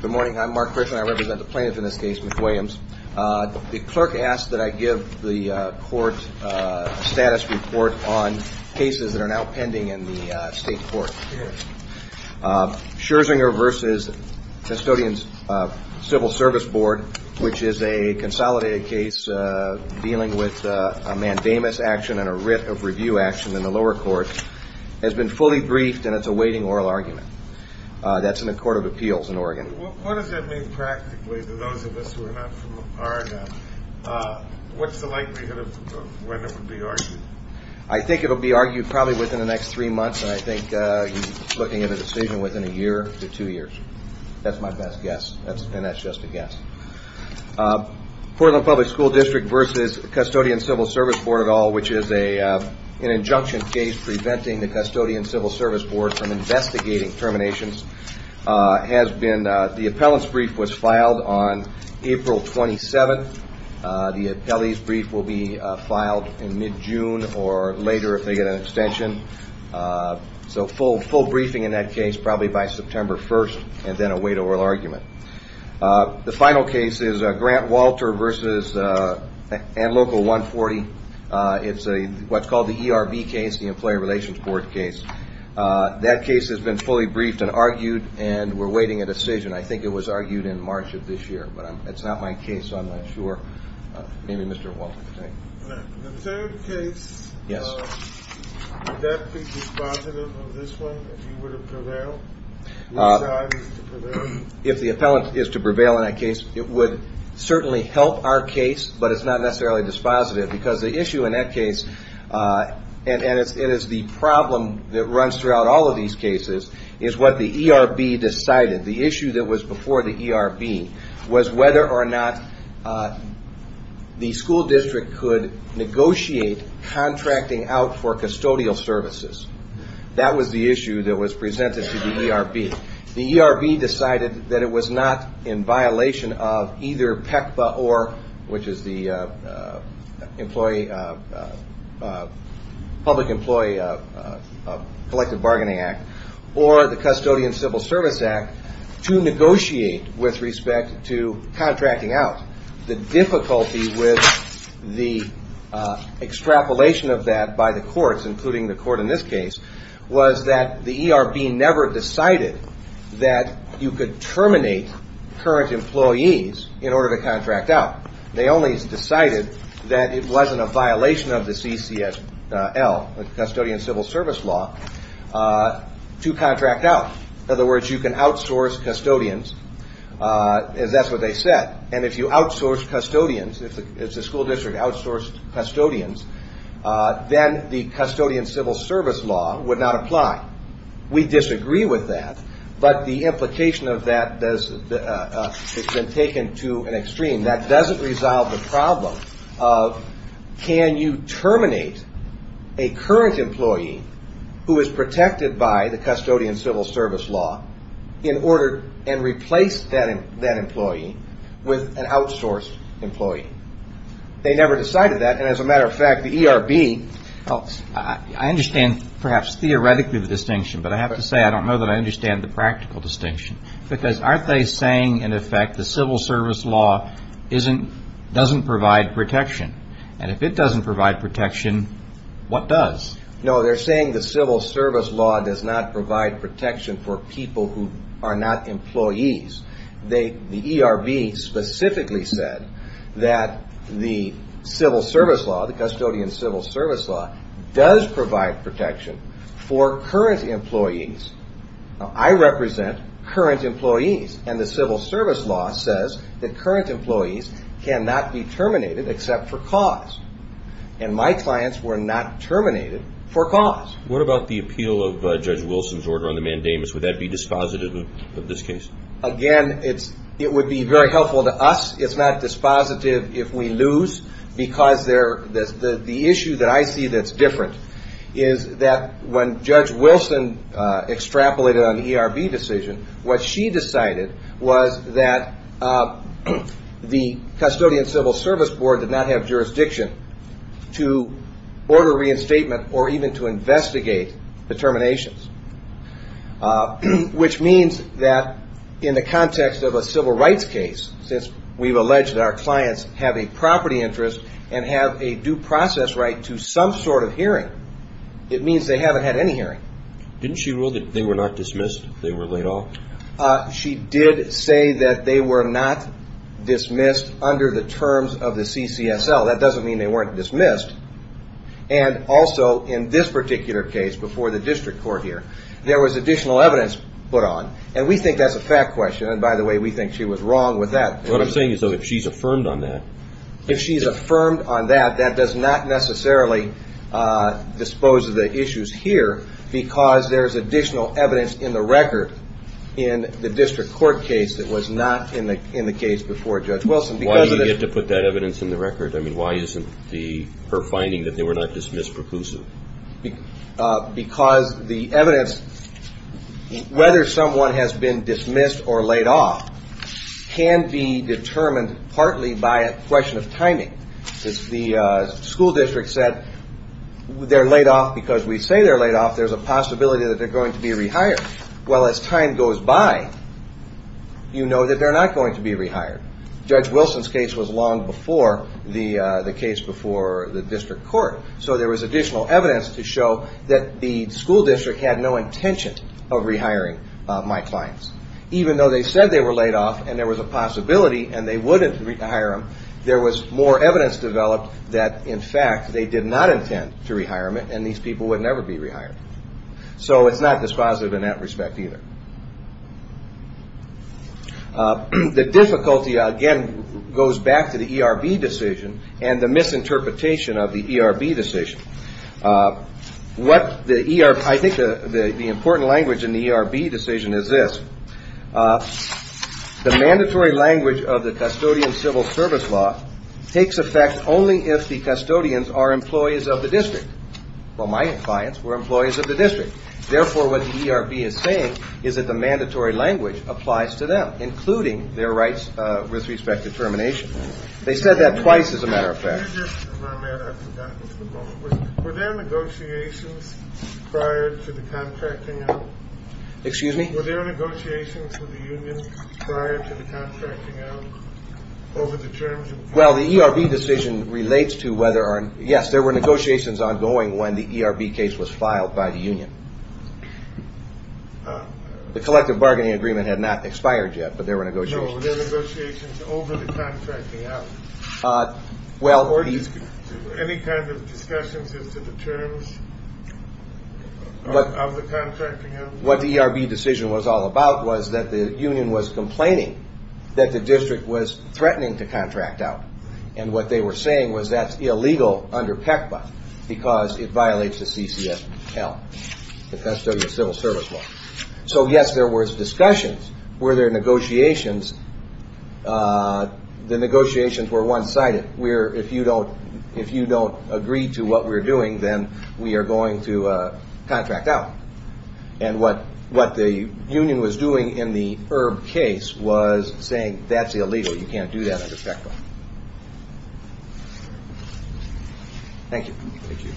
Good morning, I'm Mark Griffin. I represent the plaintiff in this case, McWilliams. The clerk asked that I give the court status report on cases that are now pending in the state court. Scherzinger v. Custodians Civil Service Board, which is a consolidated case dealing with a mandamus action and a writ of review action in the lower court, has been fully briefed and it's a court of appeals in Oregon. What does that mean practically to those of us who are not from Oregon? What's the likelihood of when it will be argued? I think it will be argued probably within the next three months and I think you're looking at a decision within a year to two years. That's my best guess and that's just a guess. Portland Public School District v. Custodians Civil Service Board et al., which is an injunction case preventing the appellant's brief was filed on April 27th. The appellee's brief will be filed in mid-June or later if they get an extension. So full briefing in that case probably by September 1st and then a wait oral argument. The final case is Grant Walter v. Ant-Local 140. It's what's called the ERB case, the Employee Relations Board case. That case has been fully briefed and argued and we're waiting a decision. I think it was argued in March of this year. But it's not my case so I'm not sure. Maybe Mr. Walter can tell you. The third case, would that be dispositive of this one if you were to prevail? If the appellant is to prevail in that case, it would certainly help our case but it's not necessarily dispositive because the issue in that case, and it is the problem that runs throughout all of these cases, is what the ERB decided. The issue that was before the ERB was whether or not the school district could negotiate contracting out for custodial services. That was the issue that was presented to the ERB. The ERB decided that it was not in violation of either PECPA or, which is the Public Employee Collective Bargaining Act, or the Custodian Civil Service Act to negotiate with respect to contracting out. The difficulty with the extrapolation of that by the courts, including the court in this case, was that the ERB never decided that you could terminate current employees in order to contract out. They only decided that it wasn't a violation of the CCSL, the Custodian Civil Service Law, to contract out. In other words, you can outsource custodians, as that's what they said. And if you outsource custodians, if the school district outsourced custodians, then the Custodian Civil Service Law would not apply. Now, we disagree with that, but the implication of that has been taken to an extreme. That doesn't resolve the problem of can you terminate a current employee who is protected by the Custodian Civil Service Law in order and replace that employee with an outsourced employee. They never decided that. And as a matter of fact, the ERB... I understand, perhaps theoretically, the distinction, but I have to say I don't know that I understand the practical distinction. Because aren't they saying, in effect, the Civil Service Law doesn't provide protection? And if it doesn't provide protection, what does? No, they're saying the Civil Service Law does not provide protection for people who are not employees. The ERB specifically said that the Civil Service Law, the Custodian Civil Service Law, does provide protection for current employees. Now, I represent current employees, and the Civil Service Law says that current employees cannot be terminated except for cause. And my clients were not terminated for cause. What about the appeal of Judge Wilson's order on the mandamus? Would that be dispositive of this case? Again, it would be very helpful to us. It's not dispositive if we lose. Because the issue that I see that's different is that when Judge Wilson extrapolated on the ERB decision, what she decided was that the Custodian Civil Service Board did not have jurisdiction to order reinstatement or even to investigate the terminations, which means that in the context of a civil rights case, since we've alleged that our clients have a property interest and have a due process right to some sort of hearing, it means they haven't had any hearing. Didn't she rule that they were not dismissed if they were laid off? She did say that they were not dismissed under the terms of the CCSL. That doesn't mean they weren't dismissed. And also in this particular case before the district court here, there was additional evidence put on. And we think that's a fact question. And by the way, we think she was wrong with that. What I'm saying is if she's affirmed on that. If she's affirmed on that, that does not necessarily dispose of the issues here because there's additional evidence in the record in the district court case that was not in the case before Judge Wilson. Why do you get to put that evidence in the record? I mean, why isn't her finding that they were not dismissed preclusive? Because the evidence, whether someone has been dismissed or laid off, can be determined partly by a question of timing. The school district said they're laid off because we say they're laid off. There's a possibility that they're going to be rehired. Well, as time goes by, you know that they're not going to be rehired. Judge Wilson's case was long before the case before the district court. So there was additional evidence to show that the school district had no intention of rehiring my clients. Even though they said they were laid off and there was a possibility and they wouldn't rehire them, there was more evidence developed that in fact they did not intend to rehire them and these people would never be rehired. So it's not dispositive in that respect either. The difficulty, again, goes back to the ERB decision and the misinterpretation of the ERB decision. I think the important language in the ERB decision is this. The mandatory language of the custodian civil service law takes effect only if the custodians are employees of the district. Well, my clients were employees of the district. Therefore, what the ERB is saying is that the mandatory language applies to them, including their rights with respect to termination. They said that twice, as a matter of fact. Were there negotiations prior to the contracting out? Excuse me? Were there negotiations with the union prior to the contracting out over the terms? Well, the ERB decision relates to whether, yes, there were negotiations ongoing when the ERB case was filed by the union. The collective bargaining agreement had not expired yet, but there were negotiations. Were there negotiations over the contracting out? Any kind of discussions as to the terms of the contracting out? What the ERB decision was all about was that the union was complaining that the district was threatening to contract out. And what they were saying was that's illegal under PECPA because it violates the CCSL, the custodian civil service law. So, yes, there were discussions. Were there negotiations? The negotiations were one-sided, where if you don't agree to what we're doing, then we are going to contract out. And what the union was doing in the ERB case was saying that's illegal. You can't do that under PECPA. Thank you. Thank you.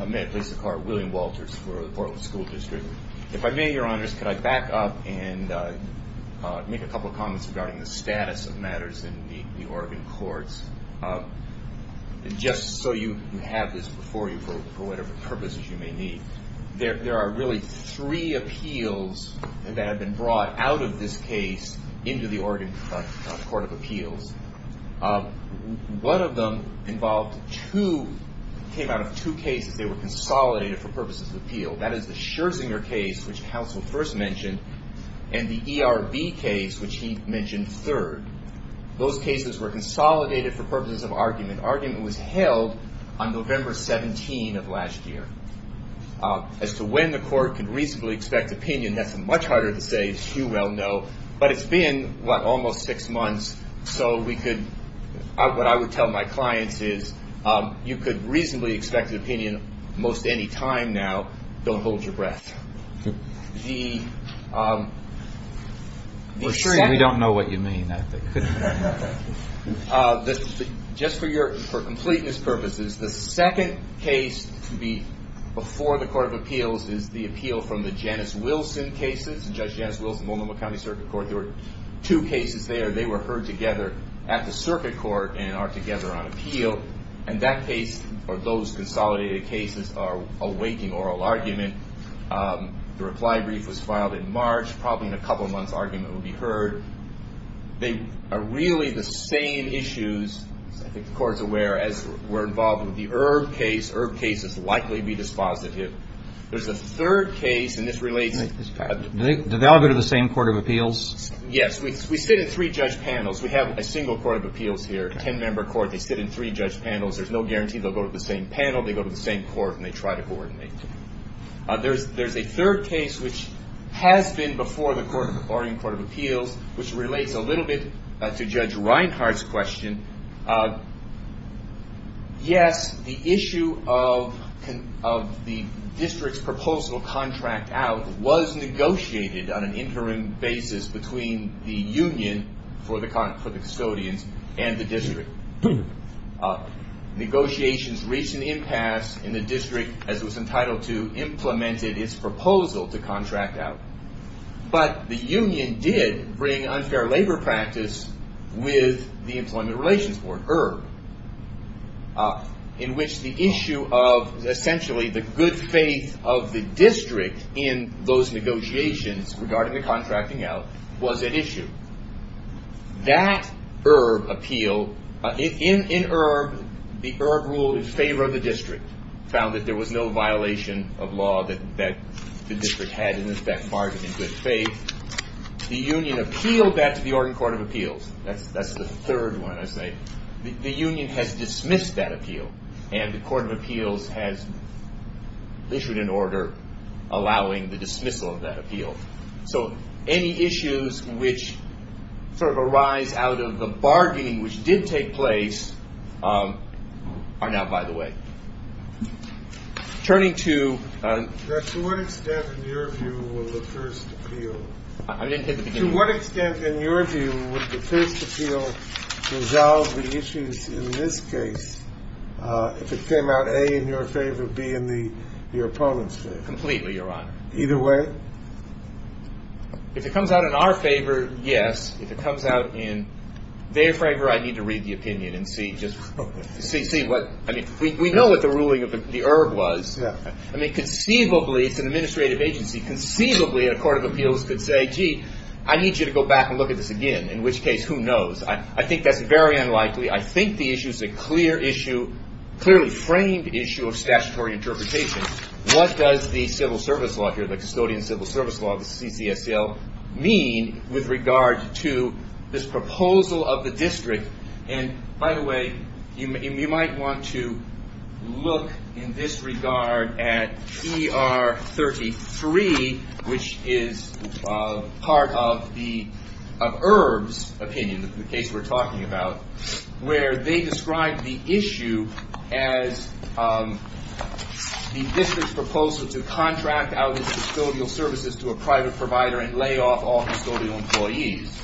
I may have placed the card. William Walters for the Portland School District. If I may, Your Honors, can I back up and make a couple of comments regarding the status of matters in the Oregon courts? Just so you have this before you for whatever purposes you may need. There are really three appeals that have been brought out of this case into the Oregon Court of Appeals. One of them came out of two cases. They were consolidated for purposes of appeal. That is the Scherzinger case, which counsel first mentioned, and the ERB case, which he mentioned third. Those cases were consolidated for purposes of argument. Argument was held on November 17 of last year. As to when the court could reasonably expect opinion, that's much harder to say. It's too well known. But it's been, what, almost six months, so what I would tell my clients is you could reasonably expect an opinion most any time now. Don't hold your breath. We don't know what you mean. Just for completeness purposes, the second case to be before the Court of Appeals is the appeal from the Janice Wilson cases. Judge Janice Wilson, Multnomah County Circuit Court. There were two cases there. They were heard together at the circuit court and are together on appeal. And that case, or those consolidated cases, are awaiting oral argument. The reply brief was filed in March. Probably in a couple of months, argument will be heard. They are really the same issues, I think the Court's aware, as we're involved with the ERB case. ERB cases likely be dispositive. There's a third case, and this relates to this. Do they all go to the same Court of Appeals? Yes. We sit in three judge panels. We have a single Court of Appeals here, a ten-member court. They sit in three judge panels. There's no guarantee they'll go to the same panel. They go to the same court, and they try to coordinate. There's a third case, which has been before the Barrington Court of Appeals, which relates a little bit to Judge Reinhardt's question. Yes, the issue of the district's proposal to contract out was negotiated on an interim basis between the union for the custodians and the district. Negotiations reached an impasse, and the district, as it was entitled to, implemented its proposal to contract out. But the union did bring unfair labor practice with the Employment Relations Board, ERB, in which the issue of essentially the good faith of the district in those negotiations regarding the contracting out was at issue. That ERB appeal, in ERB, the ERB rule in favor of the district found that there was no violation of law that the district had in effect bargained in good faith. The union appealed that to the Oregon Court of Appeals. That's the third one, I say. The union has dismissed that appeal, and the Court of Appeals has issued an order allowing the dismissal of that appeal. So any issues which sort of arise out of the bargaining which did take place are now by the way. Turning to – To what extent, in your view, will the first appeal – I didn't hit the beginning. To what extent, in your view, would the first appeal resolve the issues in this case if it came out, A, in your favor, B, in your opponent's favor? Completely, Your Honor. Either way? If it comes out in our favor, yes. If it comes out in their favor, I need to read the opinion and see just – see what – I mean, we know what the ruling of the ERB was. Yeah. I mean, conceivably, it's an administrative agency. Conceivably, a Court of Appeals could say, gee, I need you to go back and look at this again. In which case, who knows? I think that's very unlikely. I think the issue's a clear issue, clearly framed issue of statutory interpretation. What does the civil service law here, the custodian civil service law, the CCSL, mean with regard to this proposal of the district? And by the way, you might want to look in this regard at ER 33, which is part of the – of ERB's opinion, the case we're talking about, where they describe the issue as the district's proposal to contract out its custodial services to a private provider and lay off all custodial employees.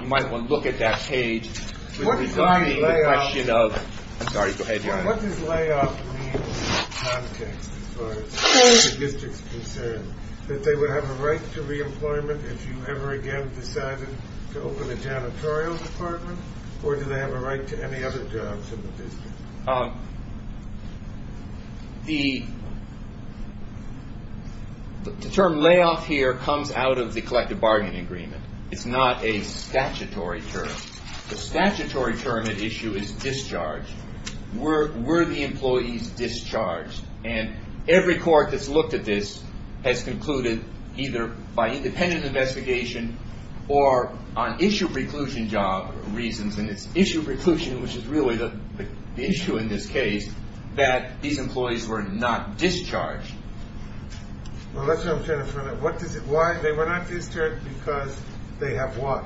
You might want to look at that page. What does laying off mean in context as far as the district's concerned? That they would have a right to reemployment if you ever again decided to open a janitorial department? Or do they have a right to any other jobs in the district? The term layoff here comes out of the collective bargaining agreement. It's not a statutory term. The statutory term at issue is discharged. Were the employees discharged? And every court that's looked at this has concluded, either by independent investigation or on issue preclusion job reasons, and it's issue preclusion, which is really the issue in this case, that these employees were not discharged. Well, that's what I'm trying to find out. What does it – why – they were not discharged because they have what?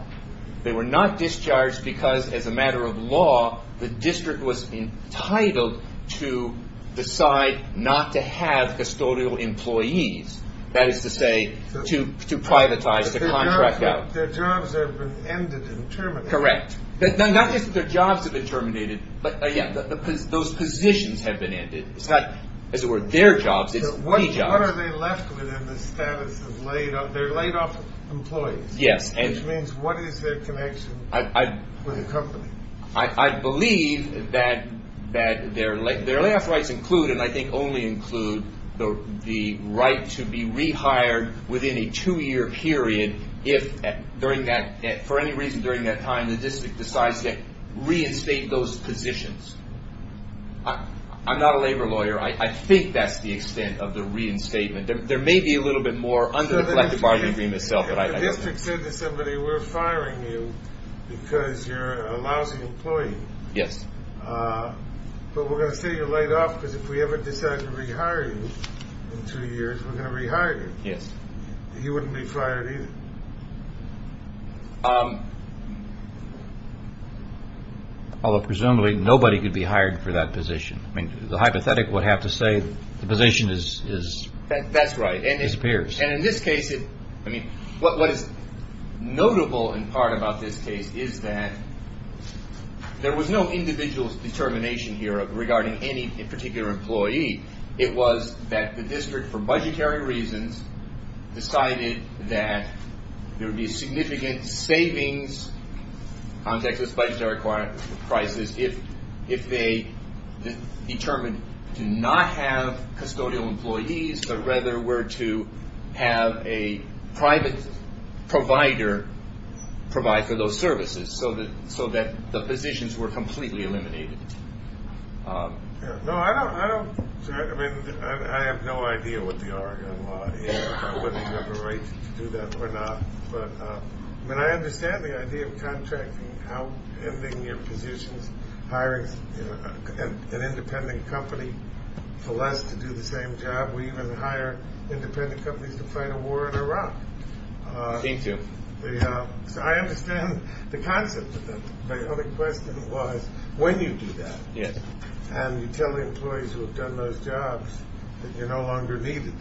They were not discharged because, as a matter of law, the district was entitled to decide not to have custodial employees. That is to say, to privatize the contract out. Their jobs have been ended and terminated. Correct. Not just that their jobs have been terminated, but, yeah, those positions have been ended. It's not, as it were, their jobs, it's the jobs. What are they left with in the status of laid off – they're laid off employees. Yes. Which means what is their connection with the company? I believe that their layoff rights include, and I think only include, the right to be rehired within a two-year period if, during that – for any reason during that time, the district decides to reinstate those positions. I'm not a labor lawyer. I think that's the extent of the reinstatement. There may be a little bit more under the collective bargaining agreement itself. The district said to somebody, we're firing you because you're a lousy employee. Yes. But we're going to say you're laid off because if we ever decide to rehire you in two years, we're going to rehire you. Yes. You wouldn't be fired either. Although, presumably, nobody could be hired for that position. I mean, the hypothetic would have to say the position is – That's right. Disappears. And in this case, I mean, what is notable in part about this case is that there was no individual determination here regarding any particular employee. It was that the district, for budgetary reasons, decided that there would be significant savings on Texas budgetary prices if they determined to not have custodial employees but rather were to have a private provider provide for those services so that the positions were completely eliminated. No, I don't – I mean, I have no idea what the argument was, whether you have a right to do that or not. But, I mean, I understand the idea of contracting out, ending your positions, hiring an independent company for less to do the same job. We even hire independent companies to fight a war in Iraq. Me too. So I understand the concept. My only question was when you do that. Yes. And you tell the employees who have done those jobs that you're no longer needed.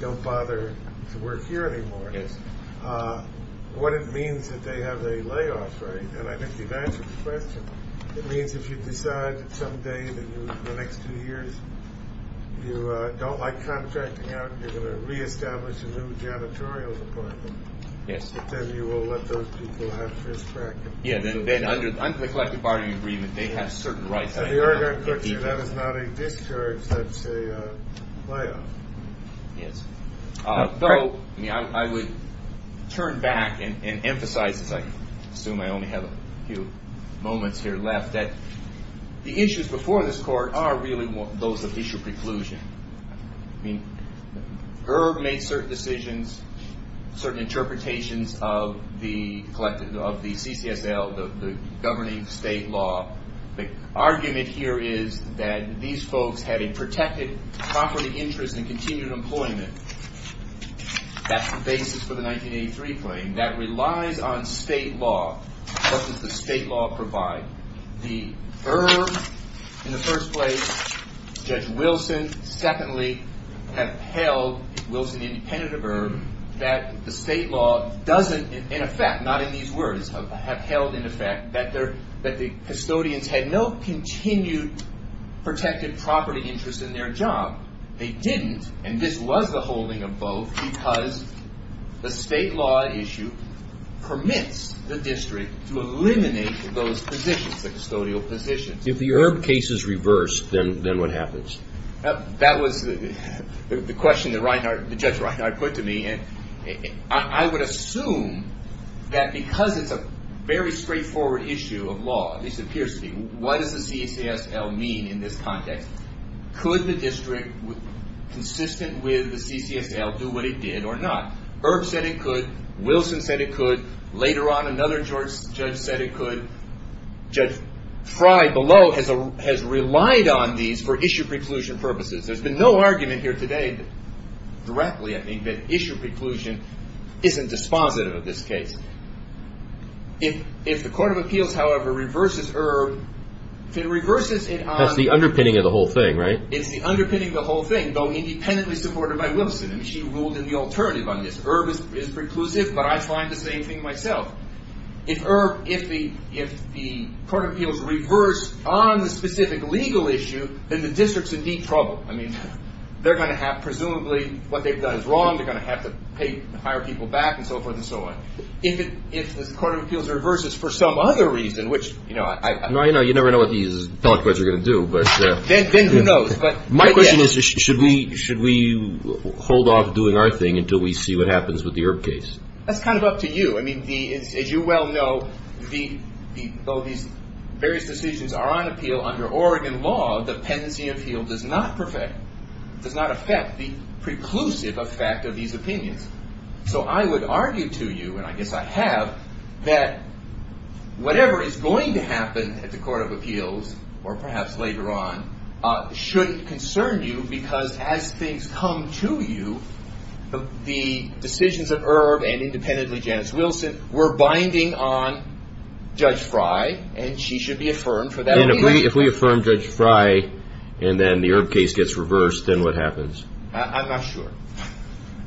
Don't bother to work here anymore. Yes. What it means that they have a layoff, right? And I think you've answered the question. It means if you decide that someday in the next two years you don't like contracting out, you're going to reestablish a new janitorial department. Yes. But then you will let those people have first practice. Yeah, then under the collective bargaining agreement, they have certain rights. That is not a discourage. That's a layoff. Yes. I would turn back and emphasize, as I assume I only have a few moments here left, that the issues before this court are really those of judicial preclusion. I mean, GERB made certain decisions, certain interpretations of the CCSL, the governing state law. The argument here is that these folks had a protected property interest and continued employment. That's the basis for the 1983 claim. That relies on state law. What does the state law provide? The GERB in the first place, Judge Wilson, secondly, have held, Wilson independent of GERB, that the state law doesn't, in effect, not in these words, have held in effect that the custodians had no continued protected property interest in their job. They didn't, and this was the holding of both because the state law issue permits the district to eliminate those positions, the custodial positions. If the GERB case is reversed, then what happens? That was the question that Judge Reinhart put to me, and I would assume that because it's a very straightforward issue of law, at least it appears to be, what does the CCSL mean in this context? Could the district, consistent with the CCSL, do what it did or not? GERB said it could. Wilson said it could. Later on, another judge said it could. Judge Frye below has relied on these for issue preclusion purposes. There's been no argument here today, directly, I think, that issue preclusion isn't dispositive of this case. If the Court of Appeals, however, reverses GERB, if it reverses it on— That's the underpinning of the whole thing, right? It's the underpinning of the whole thing, though independently supported by Wilson, and she ruled in the alternative on this. GERB is preclusive, but I find the same thing myself. If GERB, if the Court of Appeals reversed on the specific legal issue, then the district's in deep trouble. I mean, they're going to have, presumably, what they've done is wrong. They're going to have to hire people back and so forth and so on. If the Court of Appeals reverses for some other reason, which, you know, I— No, you know, you never know what these telequests are going to do, but— Then who knows, but— My question is, should we hold off doing our thing until we see what happens with the GERB case? That's kind of up to you. I mean, as you well know, though these various decisions are on appeal under Oregon law, the pendency appeal does not perfect— does not affect the preclusive effect of these opinions. So I would argue to you, and I guess I have, that whatever is going to happen at the Court of Appeals, or perhaps later on, should concern you, because as things come to you, the decisions of ERB and independently Janice Wilson were binding on Judge Frey, and she should be affirmed for that— And if we affirm Judge Frey and then the ERB case gets reversed, then what happens? I'm not sure.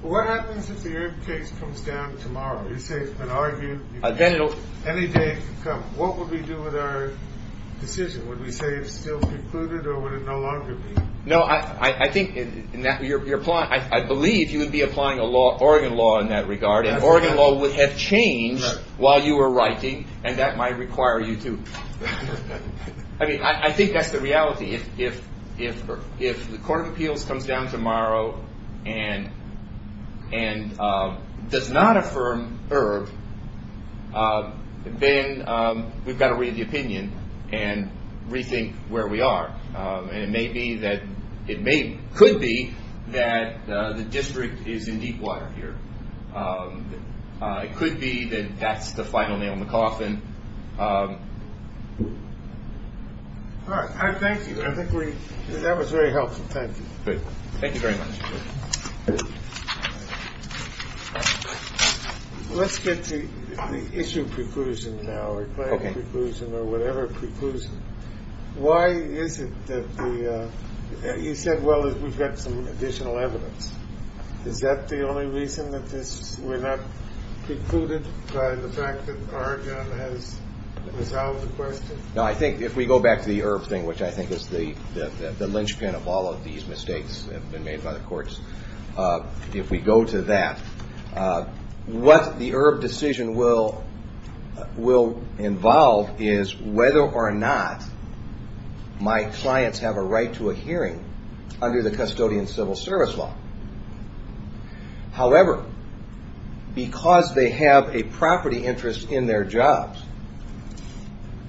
What happens if the ERB case comes down tomorrow? You say it's been argued— Then it'll— Any day it can come. What would we do with our decision? Would we say it's still precluded, or would it no longer be? No, I think—I believe you would be applying Oregon law in that regard, and Oregon law would have changed while you were writing, and that might require you to—I mean, I think that's the reality. If the Court of Appeals comes down tomorrow and does not affirm ERB, then we've got to read the opinion and rethink where we are, and it may be that—it could be that the district is in deep water here. It could be that that's the final nail in the coffin. All right. I thank you. I think we—that was very helpful. Thank you. Great. Thank you very much. Let's get to the issue of preclusion now, or grand preclusion or whatever preclusion. Why is it that the—you said, well, we've got some additional evidence. Is that the only reason that this—we're not precluded by the fact that Oregon has resolved the question? No, I think if we go back to the ERB thing, which I think is the linchpin of all of these mistakes that have been made by the courts, if we go to that, what the ERB decision will involve is whether or not my clients have a right to a hearing under the custodian civil service law. However, because they have a property interest in their jobs,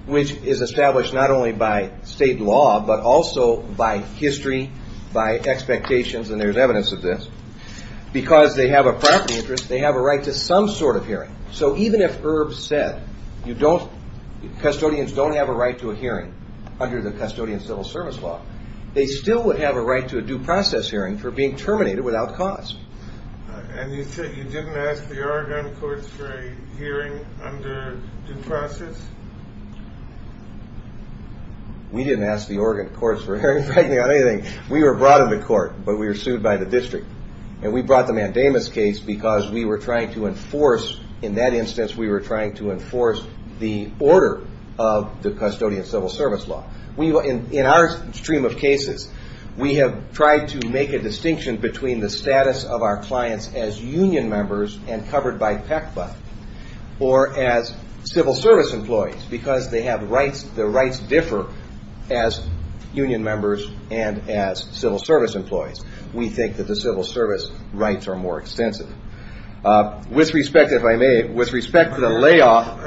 which is established not only by state law, but also by history, by expectations, and there's evidence of this, because they have a property interest, they have a right to some sort of hearing. So even if ERB said you don't—custodians don't have a right to a hearing under the custodian civil service law, they still would have a right to a due process hearing for being terminated without cause. And you said you didn't ask the Oregon courts for a hearing under due process? We didn't ask the Oregon courts for a hearing on anything. We were brought into court, but we were sued by the district. And we brought the Mandamus case because we were trying to enforce—in that instance, we were trying to enforce the order of the custodian civil service law. In our stream of cases, we have tried to make a distinction between the status of our clients as union members and covered by PECPA or as civil service employees because they have rights—their rights differ as union members and as civil service employees. We think that the civil service rights are more extensive. With respect, if I may, with respect to the layoff—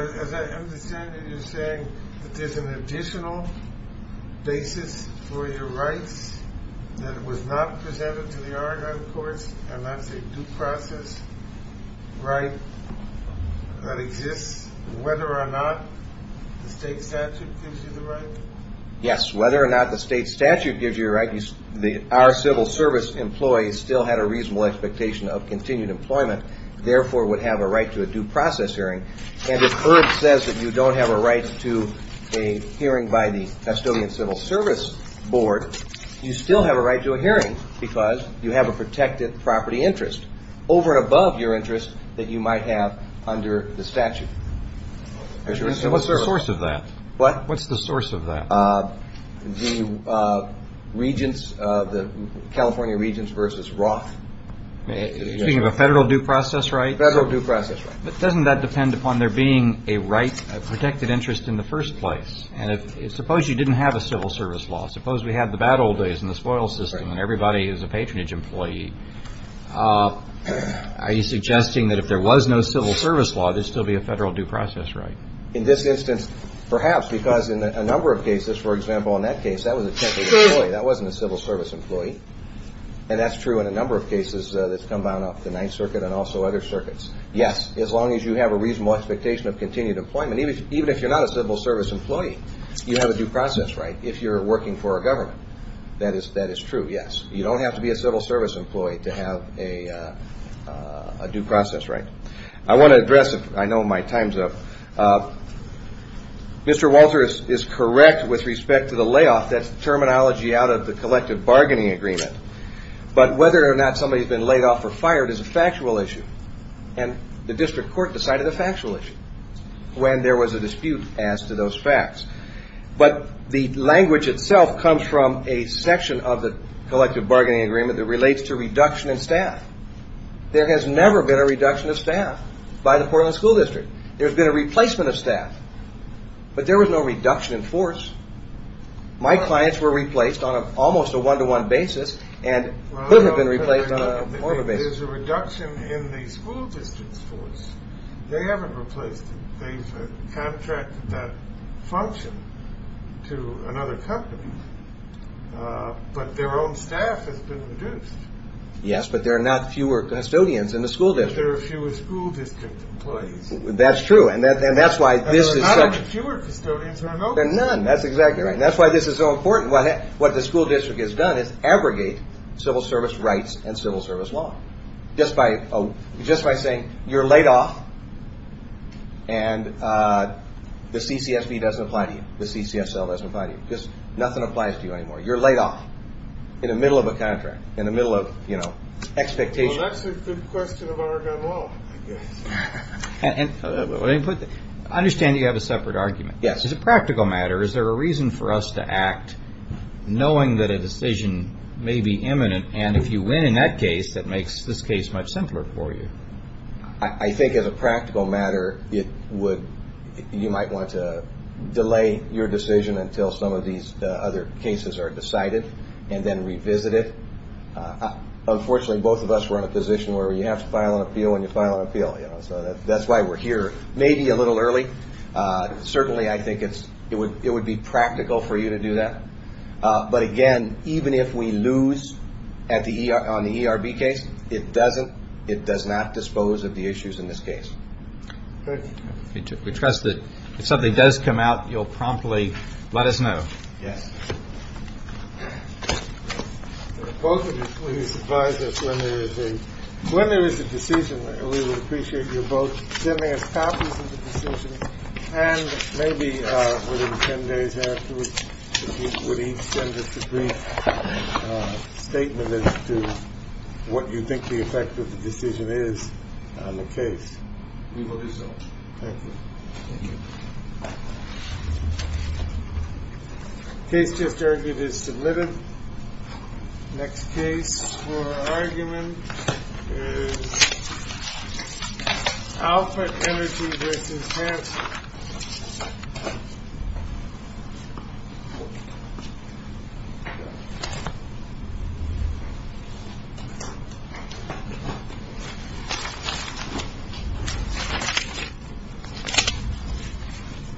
basis for your rights that was not presented to the Oregon courts, and that's a due process right that exists, whether or not the state statute gives you the right? Yes, whether or not the state statute gives you the right, our civil service employees still had a reasonable expectation of continued employment, therefore would have a right to a due process hearing. And if Herb says that you don't have a right to a hearing by the custodian civil service board, you still have a right to a hearing because you have a protected property interest over and above your interest that you might have under the statute. So what's the source of that? What? What's the source of that? The regents, the California regents versus Roth. You're speaking of a federal due process right? Federal due process right. But doesn't that depend upon there being a right, a protected interest in the first place? And suppose you didn't have a civil service law. Suppose we have the bad old days and the spoils system and everybody is a patronage employee. Are you suggesting that if there was no civil service law, there would still be a federal due process right? In this instance, perhaps, because in a number of cases, for example, in that case, that was a temporary employee. That wasn't a civil service employee. And that's true in a number of cases that's come down off the Ninth Circuit and also other circuits. Yes, as long as you have a reasonable expectation of continued employment. Even if you're not a civil service employee, you have a due process right if you're working for a government. That is true, yes. You don't have to be a civil service employee to have a due process right. I want to address, I know my time's up. Mr. Walter is correct with respect to the layoff. That's terminology out of the collective bargaining agreement. But whether or not somebody's been laid off or fired is a factual issue. And the district court decided a factual issue when there was a dispute as to those facts. But the language itself comes from a section of the collective bargaining agreement that relates to reduction in staff. There has never been a reduction of staff by the Portland School District. There's been a replacement of staff. But there was no reduction in force. My clients were replaced on almost a one-to-one basis and couldn't have been replaced on a more of a basis. There's a reduction in the school district's force. They haven't replaced it. They've contracted that function to another company. But their own staff has been reduced. Yes, but there are not fewer custodians in the school district. There are fewer school district employees. That's true. There are not fewer custodians remotely. There are none. That's exactly right. And that's why this is so important. What the school district has done is abrogate civil service rights and civil service law. Just by saying you're laid off and the CCSB doesn't apply to you. The CCSL doesn't apply to you. Nothing applies to you anymore. You're laid off in the middle of a contract, in the middle of expectations. Well, that's a good question about our gun law, I guess. Understand you have a separate argument. Yes. Is it a practical matter? Is there a reason for us to act knowing that a decision may be imminent? And if you win in that case, that makes this case much simpler for you. I think as a practical matter, you might want to delay your decision until some of these other cases are decided and then revisit it. Unfortunately, both of us were in a position where you have to file an appeal when you file an appeal. That's why we're here, maybe a little early. Certainly, I think it would be practical for you to do that. But, again, even if we lose on the ERB case, it doesn't, it does not dispose of the issues in this case. Good. We trust that if something does come out, you'll promptly let us know. Yes. Both of you, please advise us when there is a, when there is a decision. We would appreciate you both sending us copies of the decision and maybe within 10 days afterwards, would each send us a brief statement as to what you think the effect of the decision is on the case. We will do so. Thank you. Thank you. Case just argued is delivered. Next case for argument is Alpha Energy v. Hanson.